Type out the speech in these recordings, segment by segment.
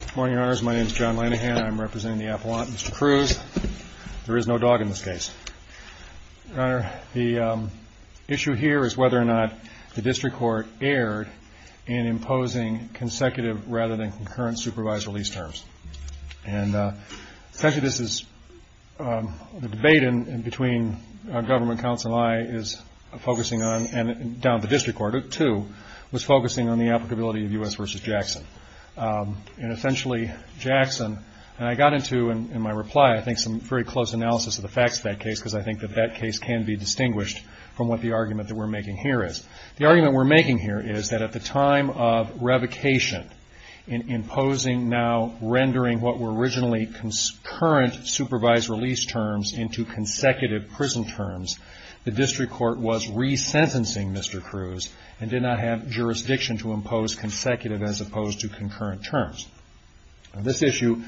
Good morning, Your Honors. My name is John Lanihan. I'm representing the Appellant, Mr. Cruz. There is no dog in this case. Your Honor, the issue here is whether or not the District Court erred in imposing consecutive rather than concurrent supervised release terms. And essentially this is, the debate between government counsel and I is focusing on, and down at the District Court too, was focusing on the applicability of U.S. v. Jackson. And essentially Jackson, and I got into in my reply I think some very close analysis of the facts of that case because I think that that case can be distinguished from what the argument that we're making here is. The argument we're making here is that at the time of revocation, in imposing now rendering what were originally concurrent supervised release terms into consecutive prison terms, the District Court was resentencing Mr. Cruz and did not have jurisdiction to impose consecutive as opposed to concurrent terms. This issue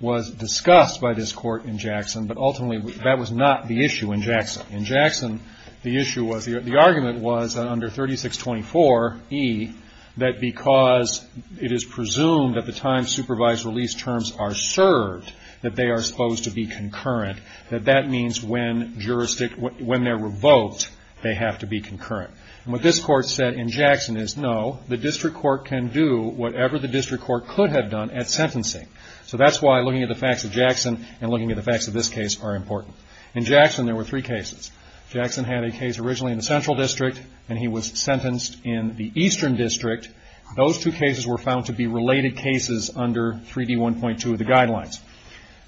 was discussed by this Court in Jackson, but ultimately that was not the issue in Jackson. In Jackson, the issue was, the argument was under 3624 E, that because it is presumed at the time supervised release terms are served that they are supposed to be concurrent, that that means when they're revoked they have to be concurrent. And what this Court said in Jackson is no, the District Court can do whatever the District Court could have done at sentencing. So that's why looking at the facts of Jackson and looking at the facts of this case are important. In Jackson there were three cases. Jackson had a case originally in the Central District and he was sentenced in the Eastern District. Those two cases were found to be related cases under 3D1.2 of the guidelines.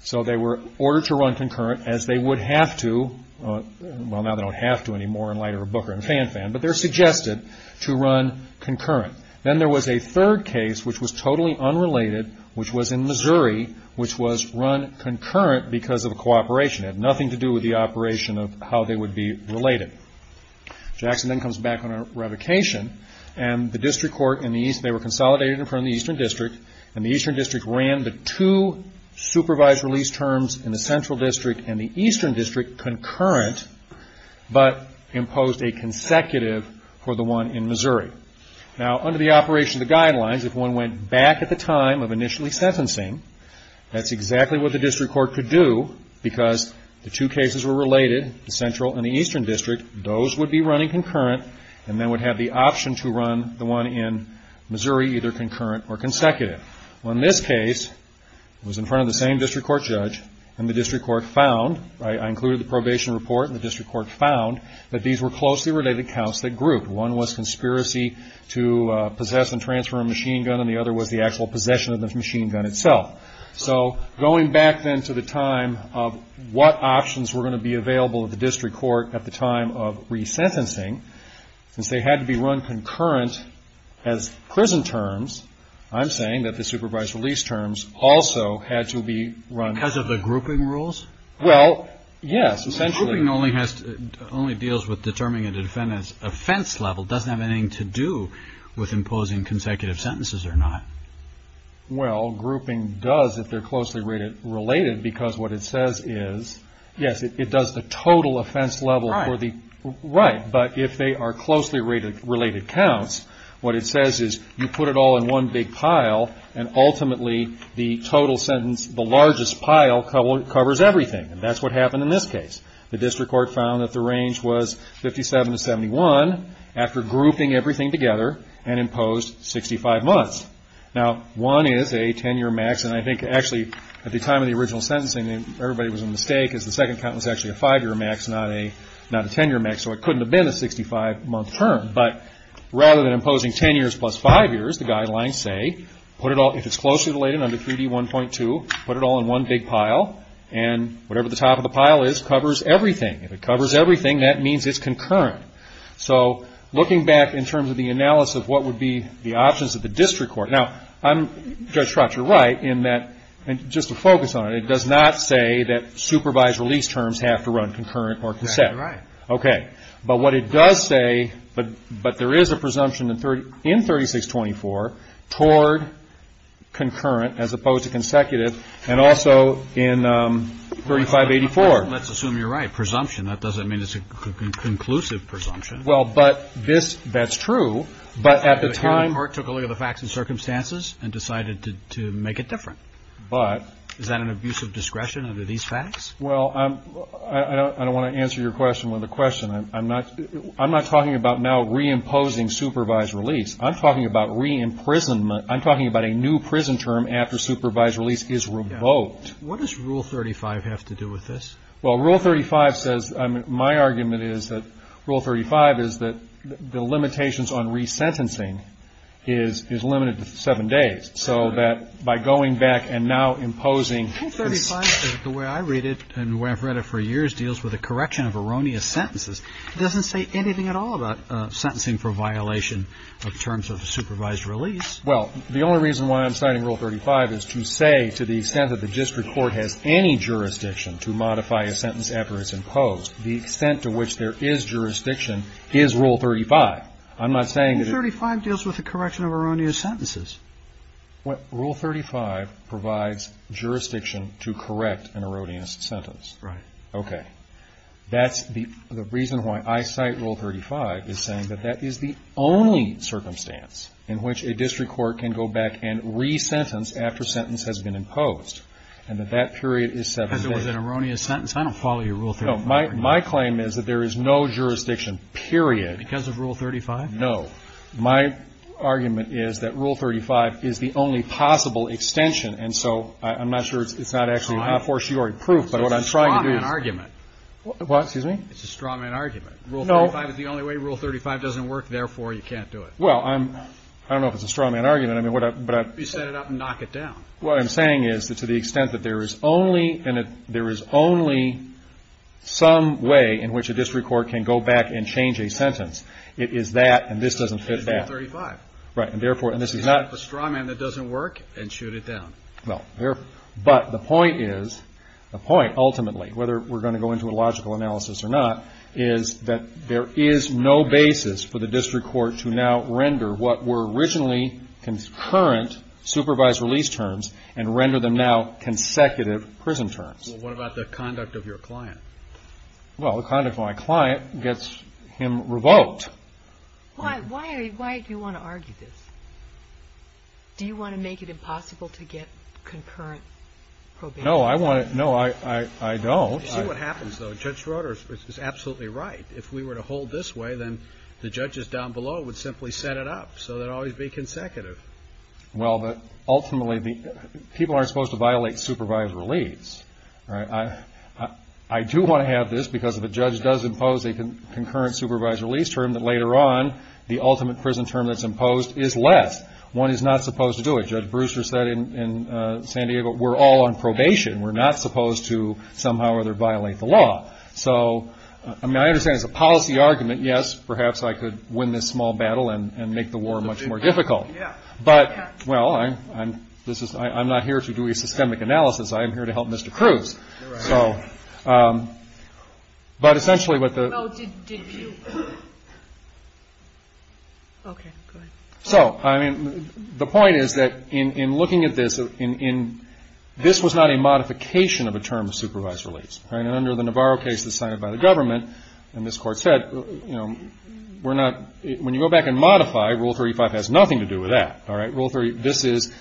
So they were ordered to run concurrent as they would have to. Well, now they don't have to anymore in light of Booker and Fanfan, but they're suggested to run concurrent. Then there was a third case which was totally unrelated, which was in Missouri, which was run concurrent because of a cooperation. It had nothing to do with the operation of how they would be related. Jackson then comes back on a revocation and they were consolidated in front of the Eastern District and the Eastern District ran the two supervised release terms in the Central District and the Eastern District concurrent, but imposed a consecutive for the one in Missouri. Now, under the operation of the guidelines, if one went back at the time of initially sentencing, that's exactly what the district court could do because the two cases were related, the Central and the Eastern District, those would be running concurrent and then would have the option to run the one in Missouri either concurrent or consecutive. Well, in this case it was in front of the same district court judge and the district court found, I included the probation report, and the district court found that these were closely related counts that grouped. One was conspiracy to possess and transfer a machine gun and the other was the actual possession of the machine gun itself. So going back then to the time of what options were going to be available at the district court at the time of resentencing, since they had to be run concurrent as prison terms, I'm saying that the supervised release terms also had to be run. Because of the grouping rules? Well, yes, essentially. But grouping only deals with determining a defendant's offense level. It doesn't have anything to do with imposing consecutive sentences or not. Well, grouping does if they're closely related because what it says is, yes, it does the total offense level. Right. But if they are closely related counts, what it says is you put it all in one big pile and ultimately the total sentence, the largest pile, covers everything. And that's what happened in this case. The district court found that the range was 57 to 71 after grouping everything together and imposed 65 months. Now, one is a 10-year max, and I think actually at the time of the original sentencing everybody was in the state because the second count was actually a 5-year max, not a 10-year max, so it couldn't have been a 65-month term. But rather than imposing 10 years plus 5 years, the guidelines say if it's closely related under 3D1.2, put it all in one big pile, and whatever the top of the pile is covers everything. If it covers everything, that means it's concurrent. So looking back in terms of the analysis of what would be the options of the district court. Now, Judge Schratz, you're right in that just to focus on it, it does not say that supervised release terms have to run concurrent or conset. Right. Okay. But what it does say, but there is a presumption in 3624 toward concurrent as opposed to consecutive, and also in 3584. Let's assume you're right. Presumption, that doesn't mean it's a conclusive presumption. Well, but this, that's true, but at the time. The court took a look at the facts and circumstances and decided to make it different. But. Is that an abuse of discretion under these facts? Well, I don't want to answer your question with a question. I'm not talking about now reimposing supervised release. I'm talking about re-imprisonment. I'm talking about a new prison term after supervised release is revoked. What does Rule 35 have to do with this? Well, Rule 35 says, my argument is that Rule 35 is that the limitations on resentencing is limited to seven days. So that by going back and now imposing. Rule 35, the way I read it and where I've read it for years, deals with a correction of erroneous sentences. It doesn't say anything at all about sentencing for violation of terms of supervised release. Well, the only reason why I'm citing Rule 35 is to say to the extent that the district court has any jurisdiction to modify a sentence after it's imposed, the extent to which there is jurisdiction is Rule 35. I'm not saying. Rule 35 deals with the correction of erroneous sentences. Rule 35 provides jurisdiction to correct an erroneous sentence. Right. Okay. That's the reason why I cite Rule 35 is saying that that is the only circumstance in which a district court can go back and resentence after sentence has been imposed and that that period is seven days. Because it was an erroneous sentence? I don't follow your Rule 35. No. My claim is that there is no jurisdiction, period. Because of Rule 35? No. My argument is that Rule 35 is the only possible extension. And so I'm not sure it's not actually a fortiori proof. But what I'm trying to do. It's a straw man argument. What? Excuse me? It's a straw man argument. Rule 35 is the only way. Rule 35 doesn't work. Therefore, you can't do it. Well, I don't know if it's a straw man argument. You set it up and knock it down. What I'm saying is that to the extent that there is only some way in which a district court can go back and change a sentence, it is that and this doesn't fit that. It's Rule 35. Right. And therefore, and this is not. You can't have a straw man that doesn't work and shoot it down. Well, but the point is, the point ultimately, whether we're going to go into a logical analysis or not, is that there is no basis for the district court to now render what were originally concurrent supervised release terms and render them now consecutive prison terms. Well, what about the conduct of your client? Well, the conduct of my client gets him revoked. Why do you want to argue this? Do you want to make it impossible to get concurrent probation? No, I don't. You see what happens, though. Judge Schroeder is absolutely right. If we were to hold this way, then the judges down below would simply set it up so it would always be consecutive. Well, but ultimately, people aren't supposed to violate supervised release. I do want to have this because if a judge does impose a concurrent supervised release term, that later on the ultimate prison term that's imposed is less. One is not supposed to do it. Judge Brewster said in San Diego, we're all on probation. We're not supposed to somehow or other violate the law. So, I mean, I understand it's a policy argument. Yes, perhaps I could win this small battle and make the war much more difficult. But, well, I'm not here to do a systemic analysis. I am here to help Mr. Cruz. You're right. So, but essentially what the. Oh, did you. Okay, go ahead. So, I mean, the point is that in looking at this, this was not a modification of a term of supervised release. And under the Navarro case that's signed by the government, and this Court said, you know, we're not. When you go back and modify, Rule 35 has nothing to do with that. All right. Rule 35,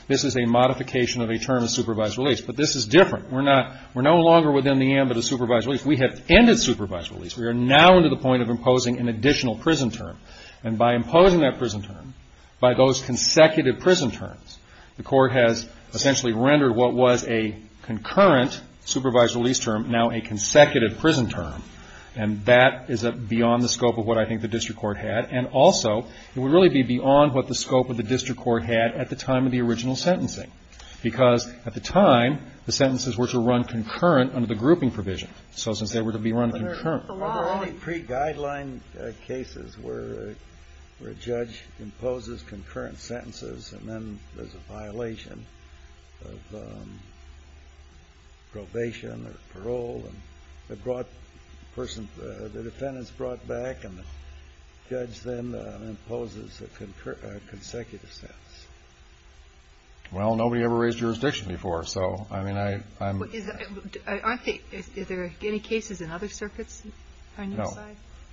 this is a modification of a term of supervised release. But this is different. We're not, we're no longer within the ambit of supervised release. We have ended supervised release. We are now into the point of imposing an additional prison term. And by imposing that prison term, by those consecutive prison terms, the Court has essentially rendered what was a concurrent supervised release term now a consecutive prison term. And that is beyond the scope of what I think the district court had. And also, it would really be beyond what the scope of the district court had at the time of the original sentencing. Because at the time, the sentences were to run concurrent under the grouping provision. So since they were to be run concurrent. The only pre-guideline cases where a judge imposes concurrent sentences and then there's a violation of probation or parole and the person, the defendant's brought back and the judge then imposes a consecutive sentence. Well, nobody ever raised jurisdiction before. So, I mean, I'm. Aren't there any cases in other circuits on your side? No.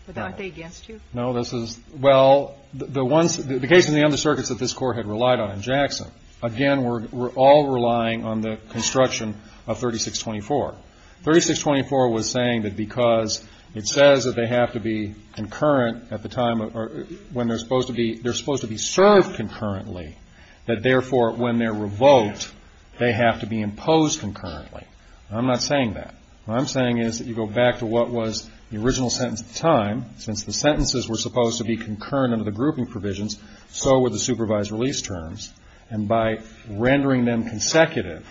But aren't they against you? No, this is. Well, the ones, the case in the other circuits that this Court had relied on in Jackson, again, were all relying on the construction of 3624. 3624 was saying that because it says that they have to be concurrent at the time when they're supposed to be, served concurrently, that, therefore, when they're revoked, they have to be imposed concurrently. I'm not saying that. What I'm saying is that you go back to what was the original sentence at the time. Since the sentences were supposed to be concurrent under the grouping provisions, so were the supervised release terms. And by rendering them consecutive,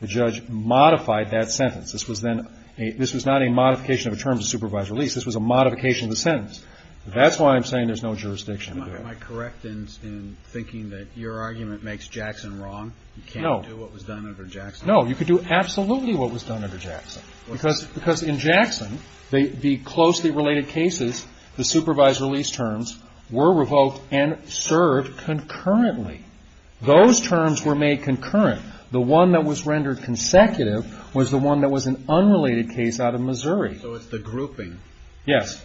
the judge modified that sentence. This was then a, this was not a modification of the terms of supervised release. This was a modification of the sentence. That's why I'm saying there's no jurisdiction. Am I correct in thinking that your argument makes Jackson wrong? No. You can't do what was done under Jackson? No. You could do absolutely what was done under Jackson. Because in Jackson, the closely related cases, the supervised release terms, were revoked and served concurrently. Those terms were made concurrent. The one that was rendered consecutive was the one that was an unrelated case out of Missouri. So it's the grouping. Yes. Yes.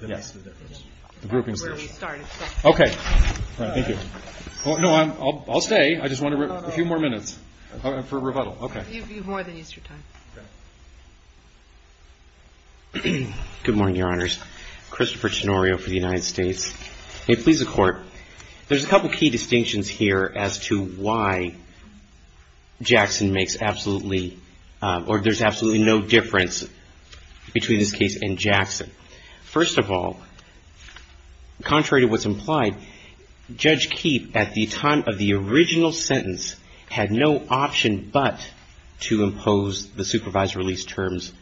That makes the difference. That's where we started. Okay. All right. Thank you. No, I'll stay. I just want a few more minutes for rebuttal. Okay. You have more than Easter time. Okay. Good morning, Your Honors. Christopher Chinorio for the United States. May it please the Court. There's a couple of key distinctions here as to why Jackson makes absolutely, or there's absolutely no difference between this case and Jackson. First of all, contrary to what's implied, Judge Keefe, at the time of the original sentence, had no option but to impose the supervised release terms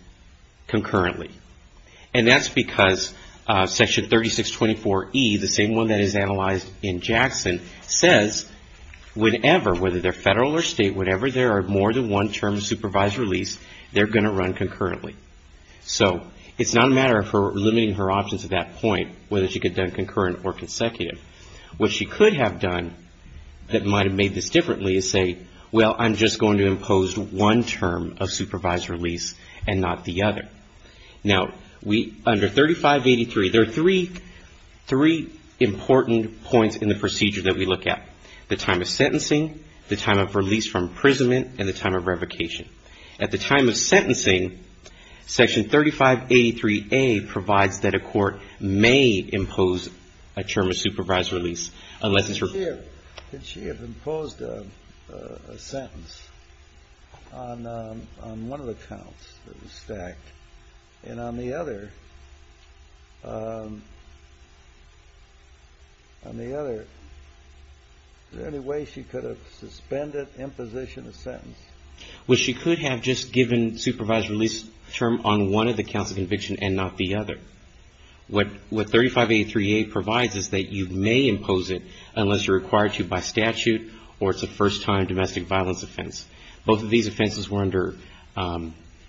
concurrently. And that's because Section 3624E, the same one that is analyzed in Jackson, says whenever, whether they're federal or state, whenever there are more than one term of supervised release, they're going to run concurrently. So it's not a matter of her limiting her options at that point, whether she could have done concurrent or consecutive. What she could have done that might have made this differently is say, well, I'm just going to impose one term of supervised release and not the other. Now, under 3583, there are three important points in the procedure that we look at, the time of sentencing, the time of release from imprisonment, and the time of revocation. At the time of sentencing, Section 3583A provides that a court may impose a term of supervised release unless it's referred to. It's clear that she had imposed a sentence on one of the counts that was stacked. And on the other, on the other, is there any way she could have suspended imposition of sentence? Well, she could have just given supervised release term on one of the counts of conviction and not the other. What 3583A provides is that you may impose it unless you're required to by statute or it's a first-time domestic violence offense. Both of these offenses were under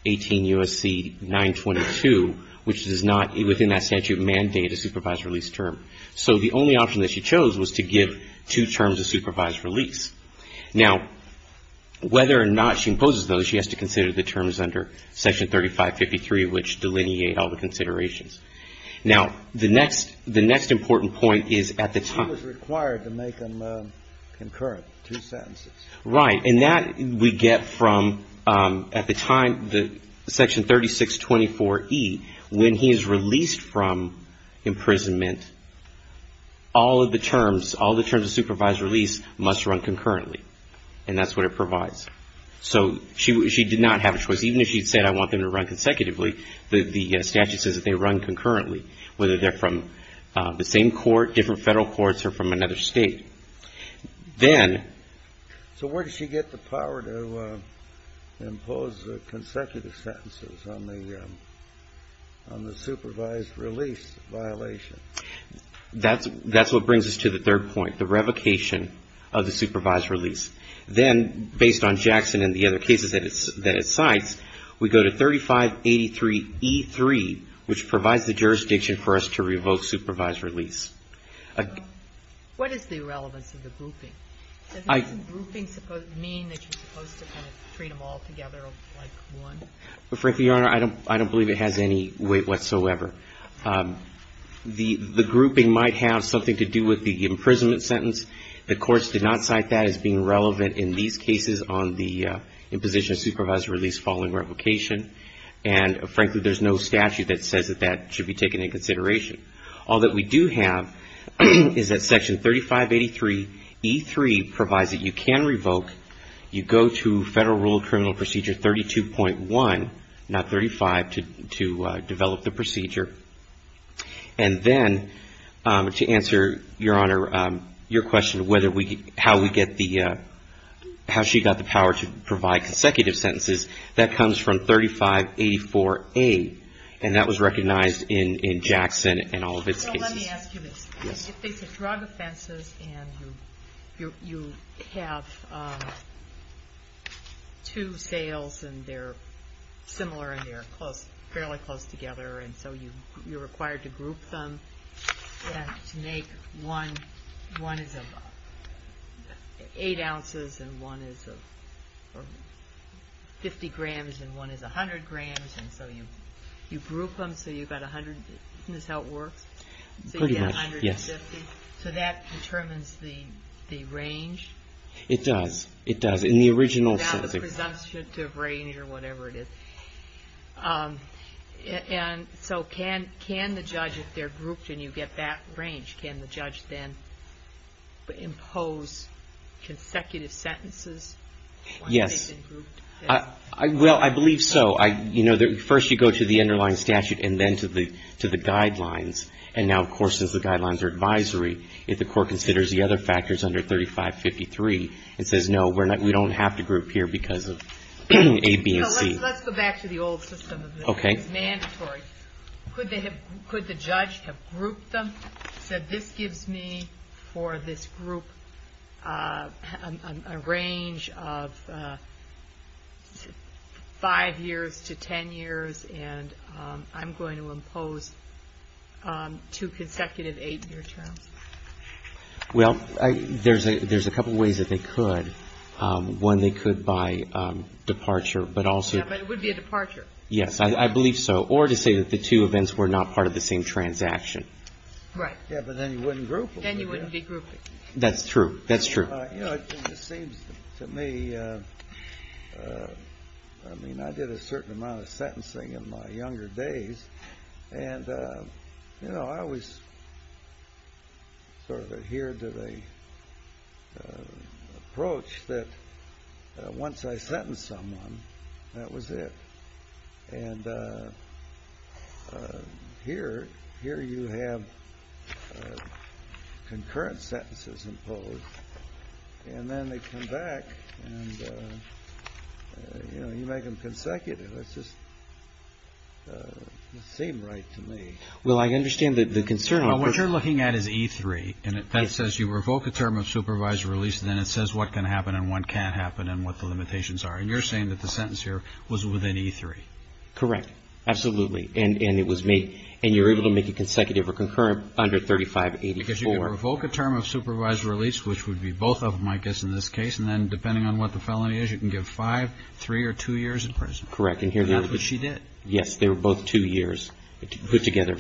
18 U.S.C. 922, which does not, within that statute, mandate a supervised release term. So the only option that she chose was to give two terms of supervised release. Now, whether or not she imposes those, she has to consider the terms under Section 3553, which delineate all the considerations. Now, the next, the next important point is at the time. She was required to make them concurrent, two sentences. Right. And that we get from, at the time, the Section 3624E, when he is released from imprisonment, all of the terms, all the terms of supervised release must run concurrently. And that's what it provides. So she, she did not have a choice. Even if she said, I want them to run consecutively, the statute says that they run concurrently, whether they're from the same court, different federal courts, or from another state. Then. So where does she get the power to impose consecutive sentences on the, on the supervised release violation? That's, that's what brings us to the third point, the revocation of the supervised release. Then, based on Jackson and the other cases that it, that it cites, we go to 3583E3, which provides the jurisdiction for us to revoke supervised release. What is the relevance of the grouping? Does grouping mean that you're supposed to kind of treat them all together like one? Well, frankly, Your Honor, I don't, I don't believe it has any weight whatsoever. The, the grouping might have something to do with the imprisonment sentence. The courts did not cite that as being relevant in these cases on the imposition of supervised release following revocation. And frankly, there's no statute that says that that should be taken into consideration. All that we do have is that Section 3583E3 provides that you can revoke. You go to Federal Rule of Criminal Procedure 32.1, not 35, to, to develop the procedure. And then, to answer, Your Honor, your question whether we, how we get the, how she got the power to provide consecutive sentences, that comes from 3584A, and that was recognized in, in Jackson and all of its cases. So let me ask you this. These are drug offenses, and you, you have two sales, and they're similar, and they're close, fairly close together. And so you, you're required to group them, and to make one, one is eight ounces, and one is 50 grams, and one is 100 grams. And so you, you group them so you've got 100. Isn't this how it works? Pretty much, yes. So you get 150. So that determines the, the range? It does. It does. In the original sentence. Without the presumptive range or whatever it is. And so can, can the judge, if they're grouped and you get that range, can the judge then impose consecutive sentences? Yes. Once they've been grouped? Well, I believe so. I, you know, first you go to the underlying statute and then to the, to the guidelines. And now, of course, since the guidelines are advisory, if the court considers the other factors under 3553, it says, no, we're not, we don't have to group here because of A, B, and C. So let's, let's go back to the old system. Okay. It's mandatory. Could they have, could the judge have grouped them? So this gives me for this group a range of five years to ten years, and I'm going to impose two consecutive eight-year terms. Well, there's a, there's a couple ways that they could. One, they could by departure, but also. Yeah, but it would be a departure. Yes, I believe so. Or to say that the two events were not part of the same transaction. Right. Yeah, but then you wouldn't group them. Then you wouldn't be grouping. That's true. That's true. You know, it seems to me, I mean, I did a certain amount of sentencing in my younger days. And, you know, I always sort of adhered to the approach that once I sentenced someone, that was it. And here, here you have concurrent sentences imposed. And then they come back and, you know, you make them consecutive. It's just, it doesn't seem right to me. Well, I understand the concern. Well, what you're looking at is E3. And that says you revoke a term of supervised release. And then it says what can happen and what can't happen and what the limitations are. And you're saying that the sentence here was within E3. Correct. Absolutely. And it was made. And you're able to make it consecutive or concurrent under 3584. Because you can revoke a term of supervised release, which would be both of them, I guess, in this case. And then depending on what the felony is, you can give five, three or two years in prison. Correct. And here's what she did. Yes, they were both two years put together.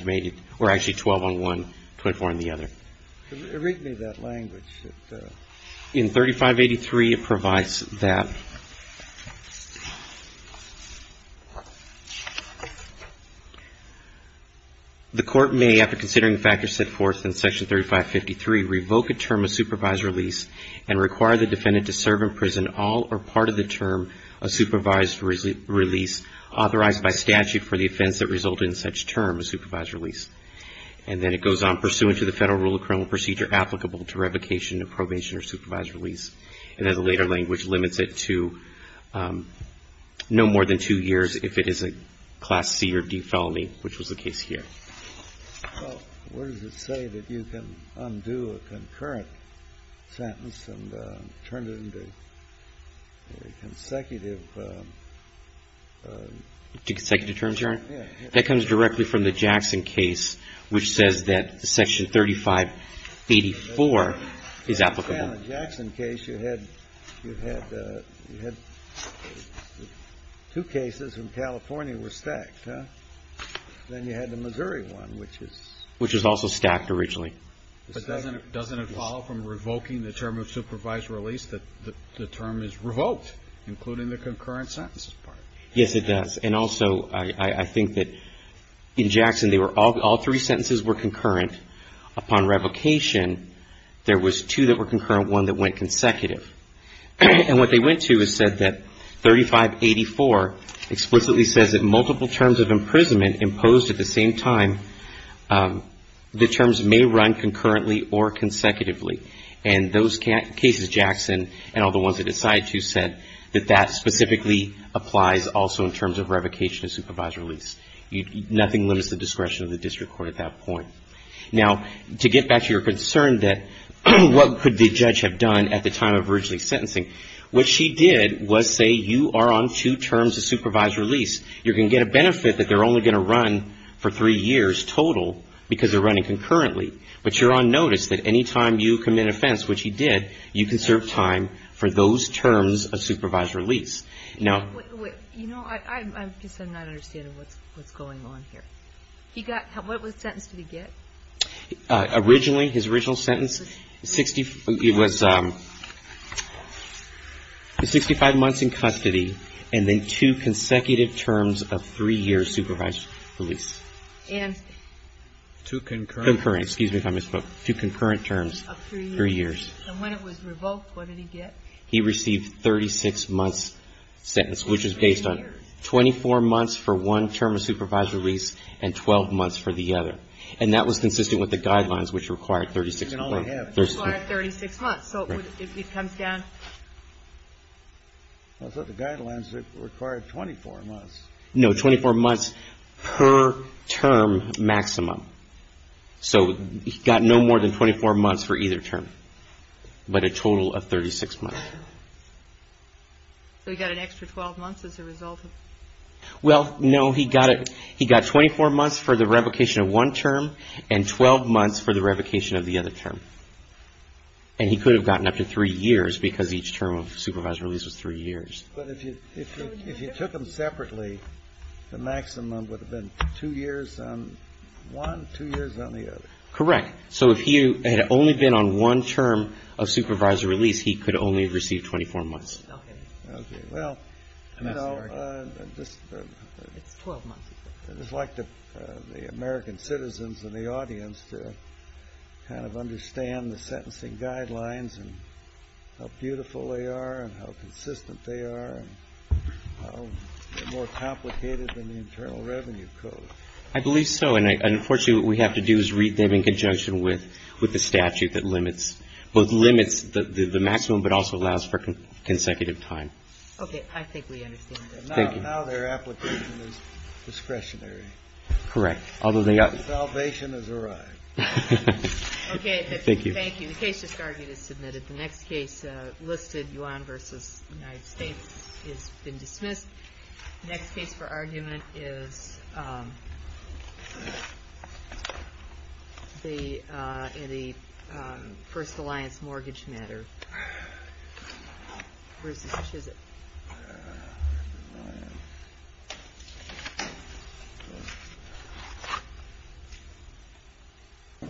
Or actually 12 on one, 24 on the other. Read me that language. In 3583, it provides that the court may, after considering the factors set forth in Section 3553, revoke a term of supervised release and require the defendant to serve in prison all or part of the term of supervised release authorized by statute for the offense that resulted in such term of supervised release. And then it goes on. Pursuant to the federal rule of criminal procedure applicable to revocation of probation or supervised release. And then the later language limits it to no more than two years if it is a Class C or D felony, which was the case here. Well, where does it say that you can undo a concurrent sentence and turn it into consecutive? To consecutive terms, Your Honor? Yes. That comes directly from the Jackson case, which says that Section 3584 is applicable. In the Jackson case, you had two cases from California were stacked, huh? Then you had the Missouri one, which is. Which was also stacked originally. But doesn't it follow from revoking the term of supervised release that the term is revoked, including the concurrent sentences part? Yes, it does. And also, I think that in Jackson, all three sentences were concurrent. Upon revocation, there was two that were concurrent, one that went consecutive. And what they went to is said that 3584 explicitly says that multiple terms of imprisonment imposed at the same time, the terms may run concurrently or consecutively. And those cases, Jackson and all the ones that it cited too, said that that specifically applies also in terms of revocation of supervised release. Nothing limits the discretion of the district court at that point. Now, to get back to your concern that what could the judge have done at the time of originally sentencing, what she did was say you are on two terms of supervised release. You're going to get a benefit that they're only going to run for three years total because they're running concurrently. But you're on notice that any time you commit an offense, which he did, you can serve time for those terms of supervised release. You know, I just am not understanding what's going on here. What sentence did he get? Originally, his original sentence, it was 65 months in custody and then two consecutive terms of three-year supervised release. Two concurrent terms of three years. And when it was revoked, what did he get? He received 36 months' sentence, which is based on 24 months for one term of supervised release and 12 months for the other. And that was consistent with the guidelines, which required 36 months. Required 36 months. So if he comes down. I thought the guidelines required 24 months. No, 24 months per term maximum. So he got no more than 24 months for either term, but a total of 36 months. So he got an extra 12 months as a result? Well, no, he got 24 months for the revocation of one term and 12 months for the revocation of the other term. And he could have gotten up to three years because each term of supervised release was three years. But if you took them separately, the maximum would have been two years on one, two years on the other. Correct. So if he had only been on one term of supervised release, he could only have received 24 months. Okay. Well, you know. It's 12 months. I'd just like the American citizens in the audience to kind of understand the sentencing guidelines and how beautiful they are and how consistent they are and how they're more complicated than the Internal Revenue Code. I believe so. And, unfortunately, what we have to do is read them in conjunction with the statute that limits the maximum but also allows for consecutive time. Okay. I think we understand that. Thank you. Now their application is discretionary. Correct. Salvation has arrived. Okay. Thank you. Thank you. The case discarded is submitted. The next case listed, Yuan v. United States, has been dismissed. The next case for argument is the First Alliance mortgage matter versus Chisholm. Thank you.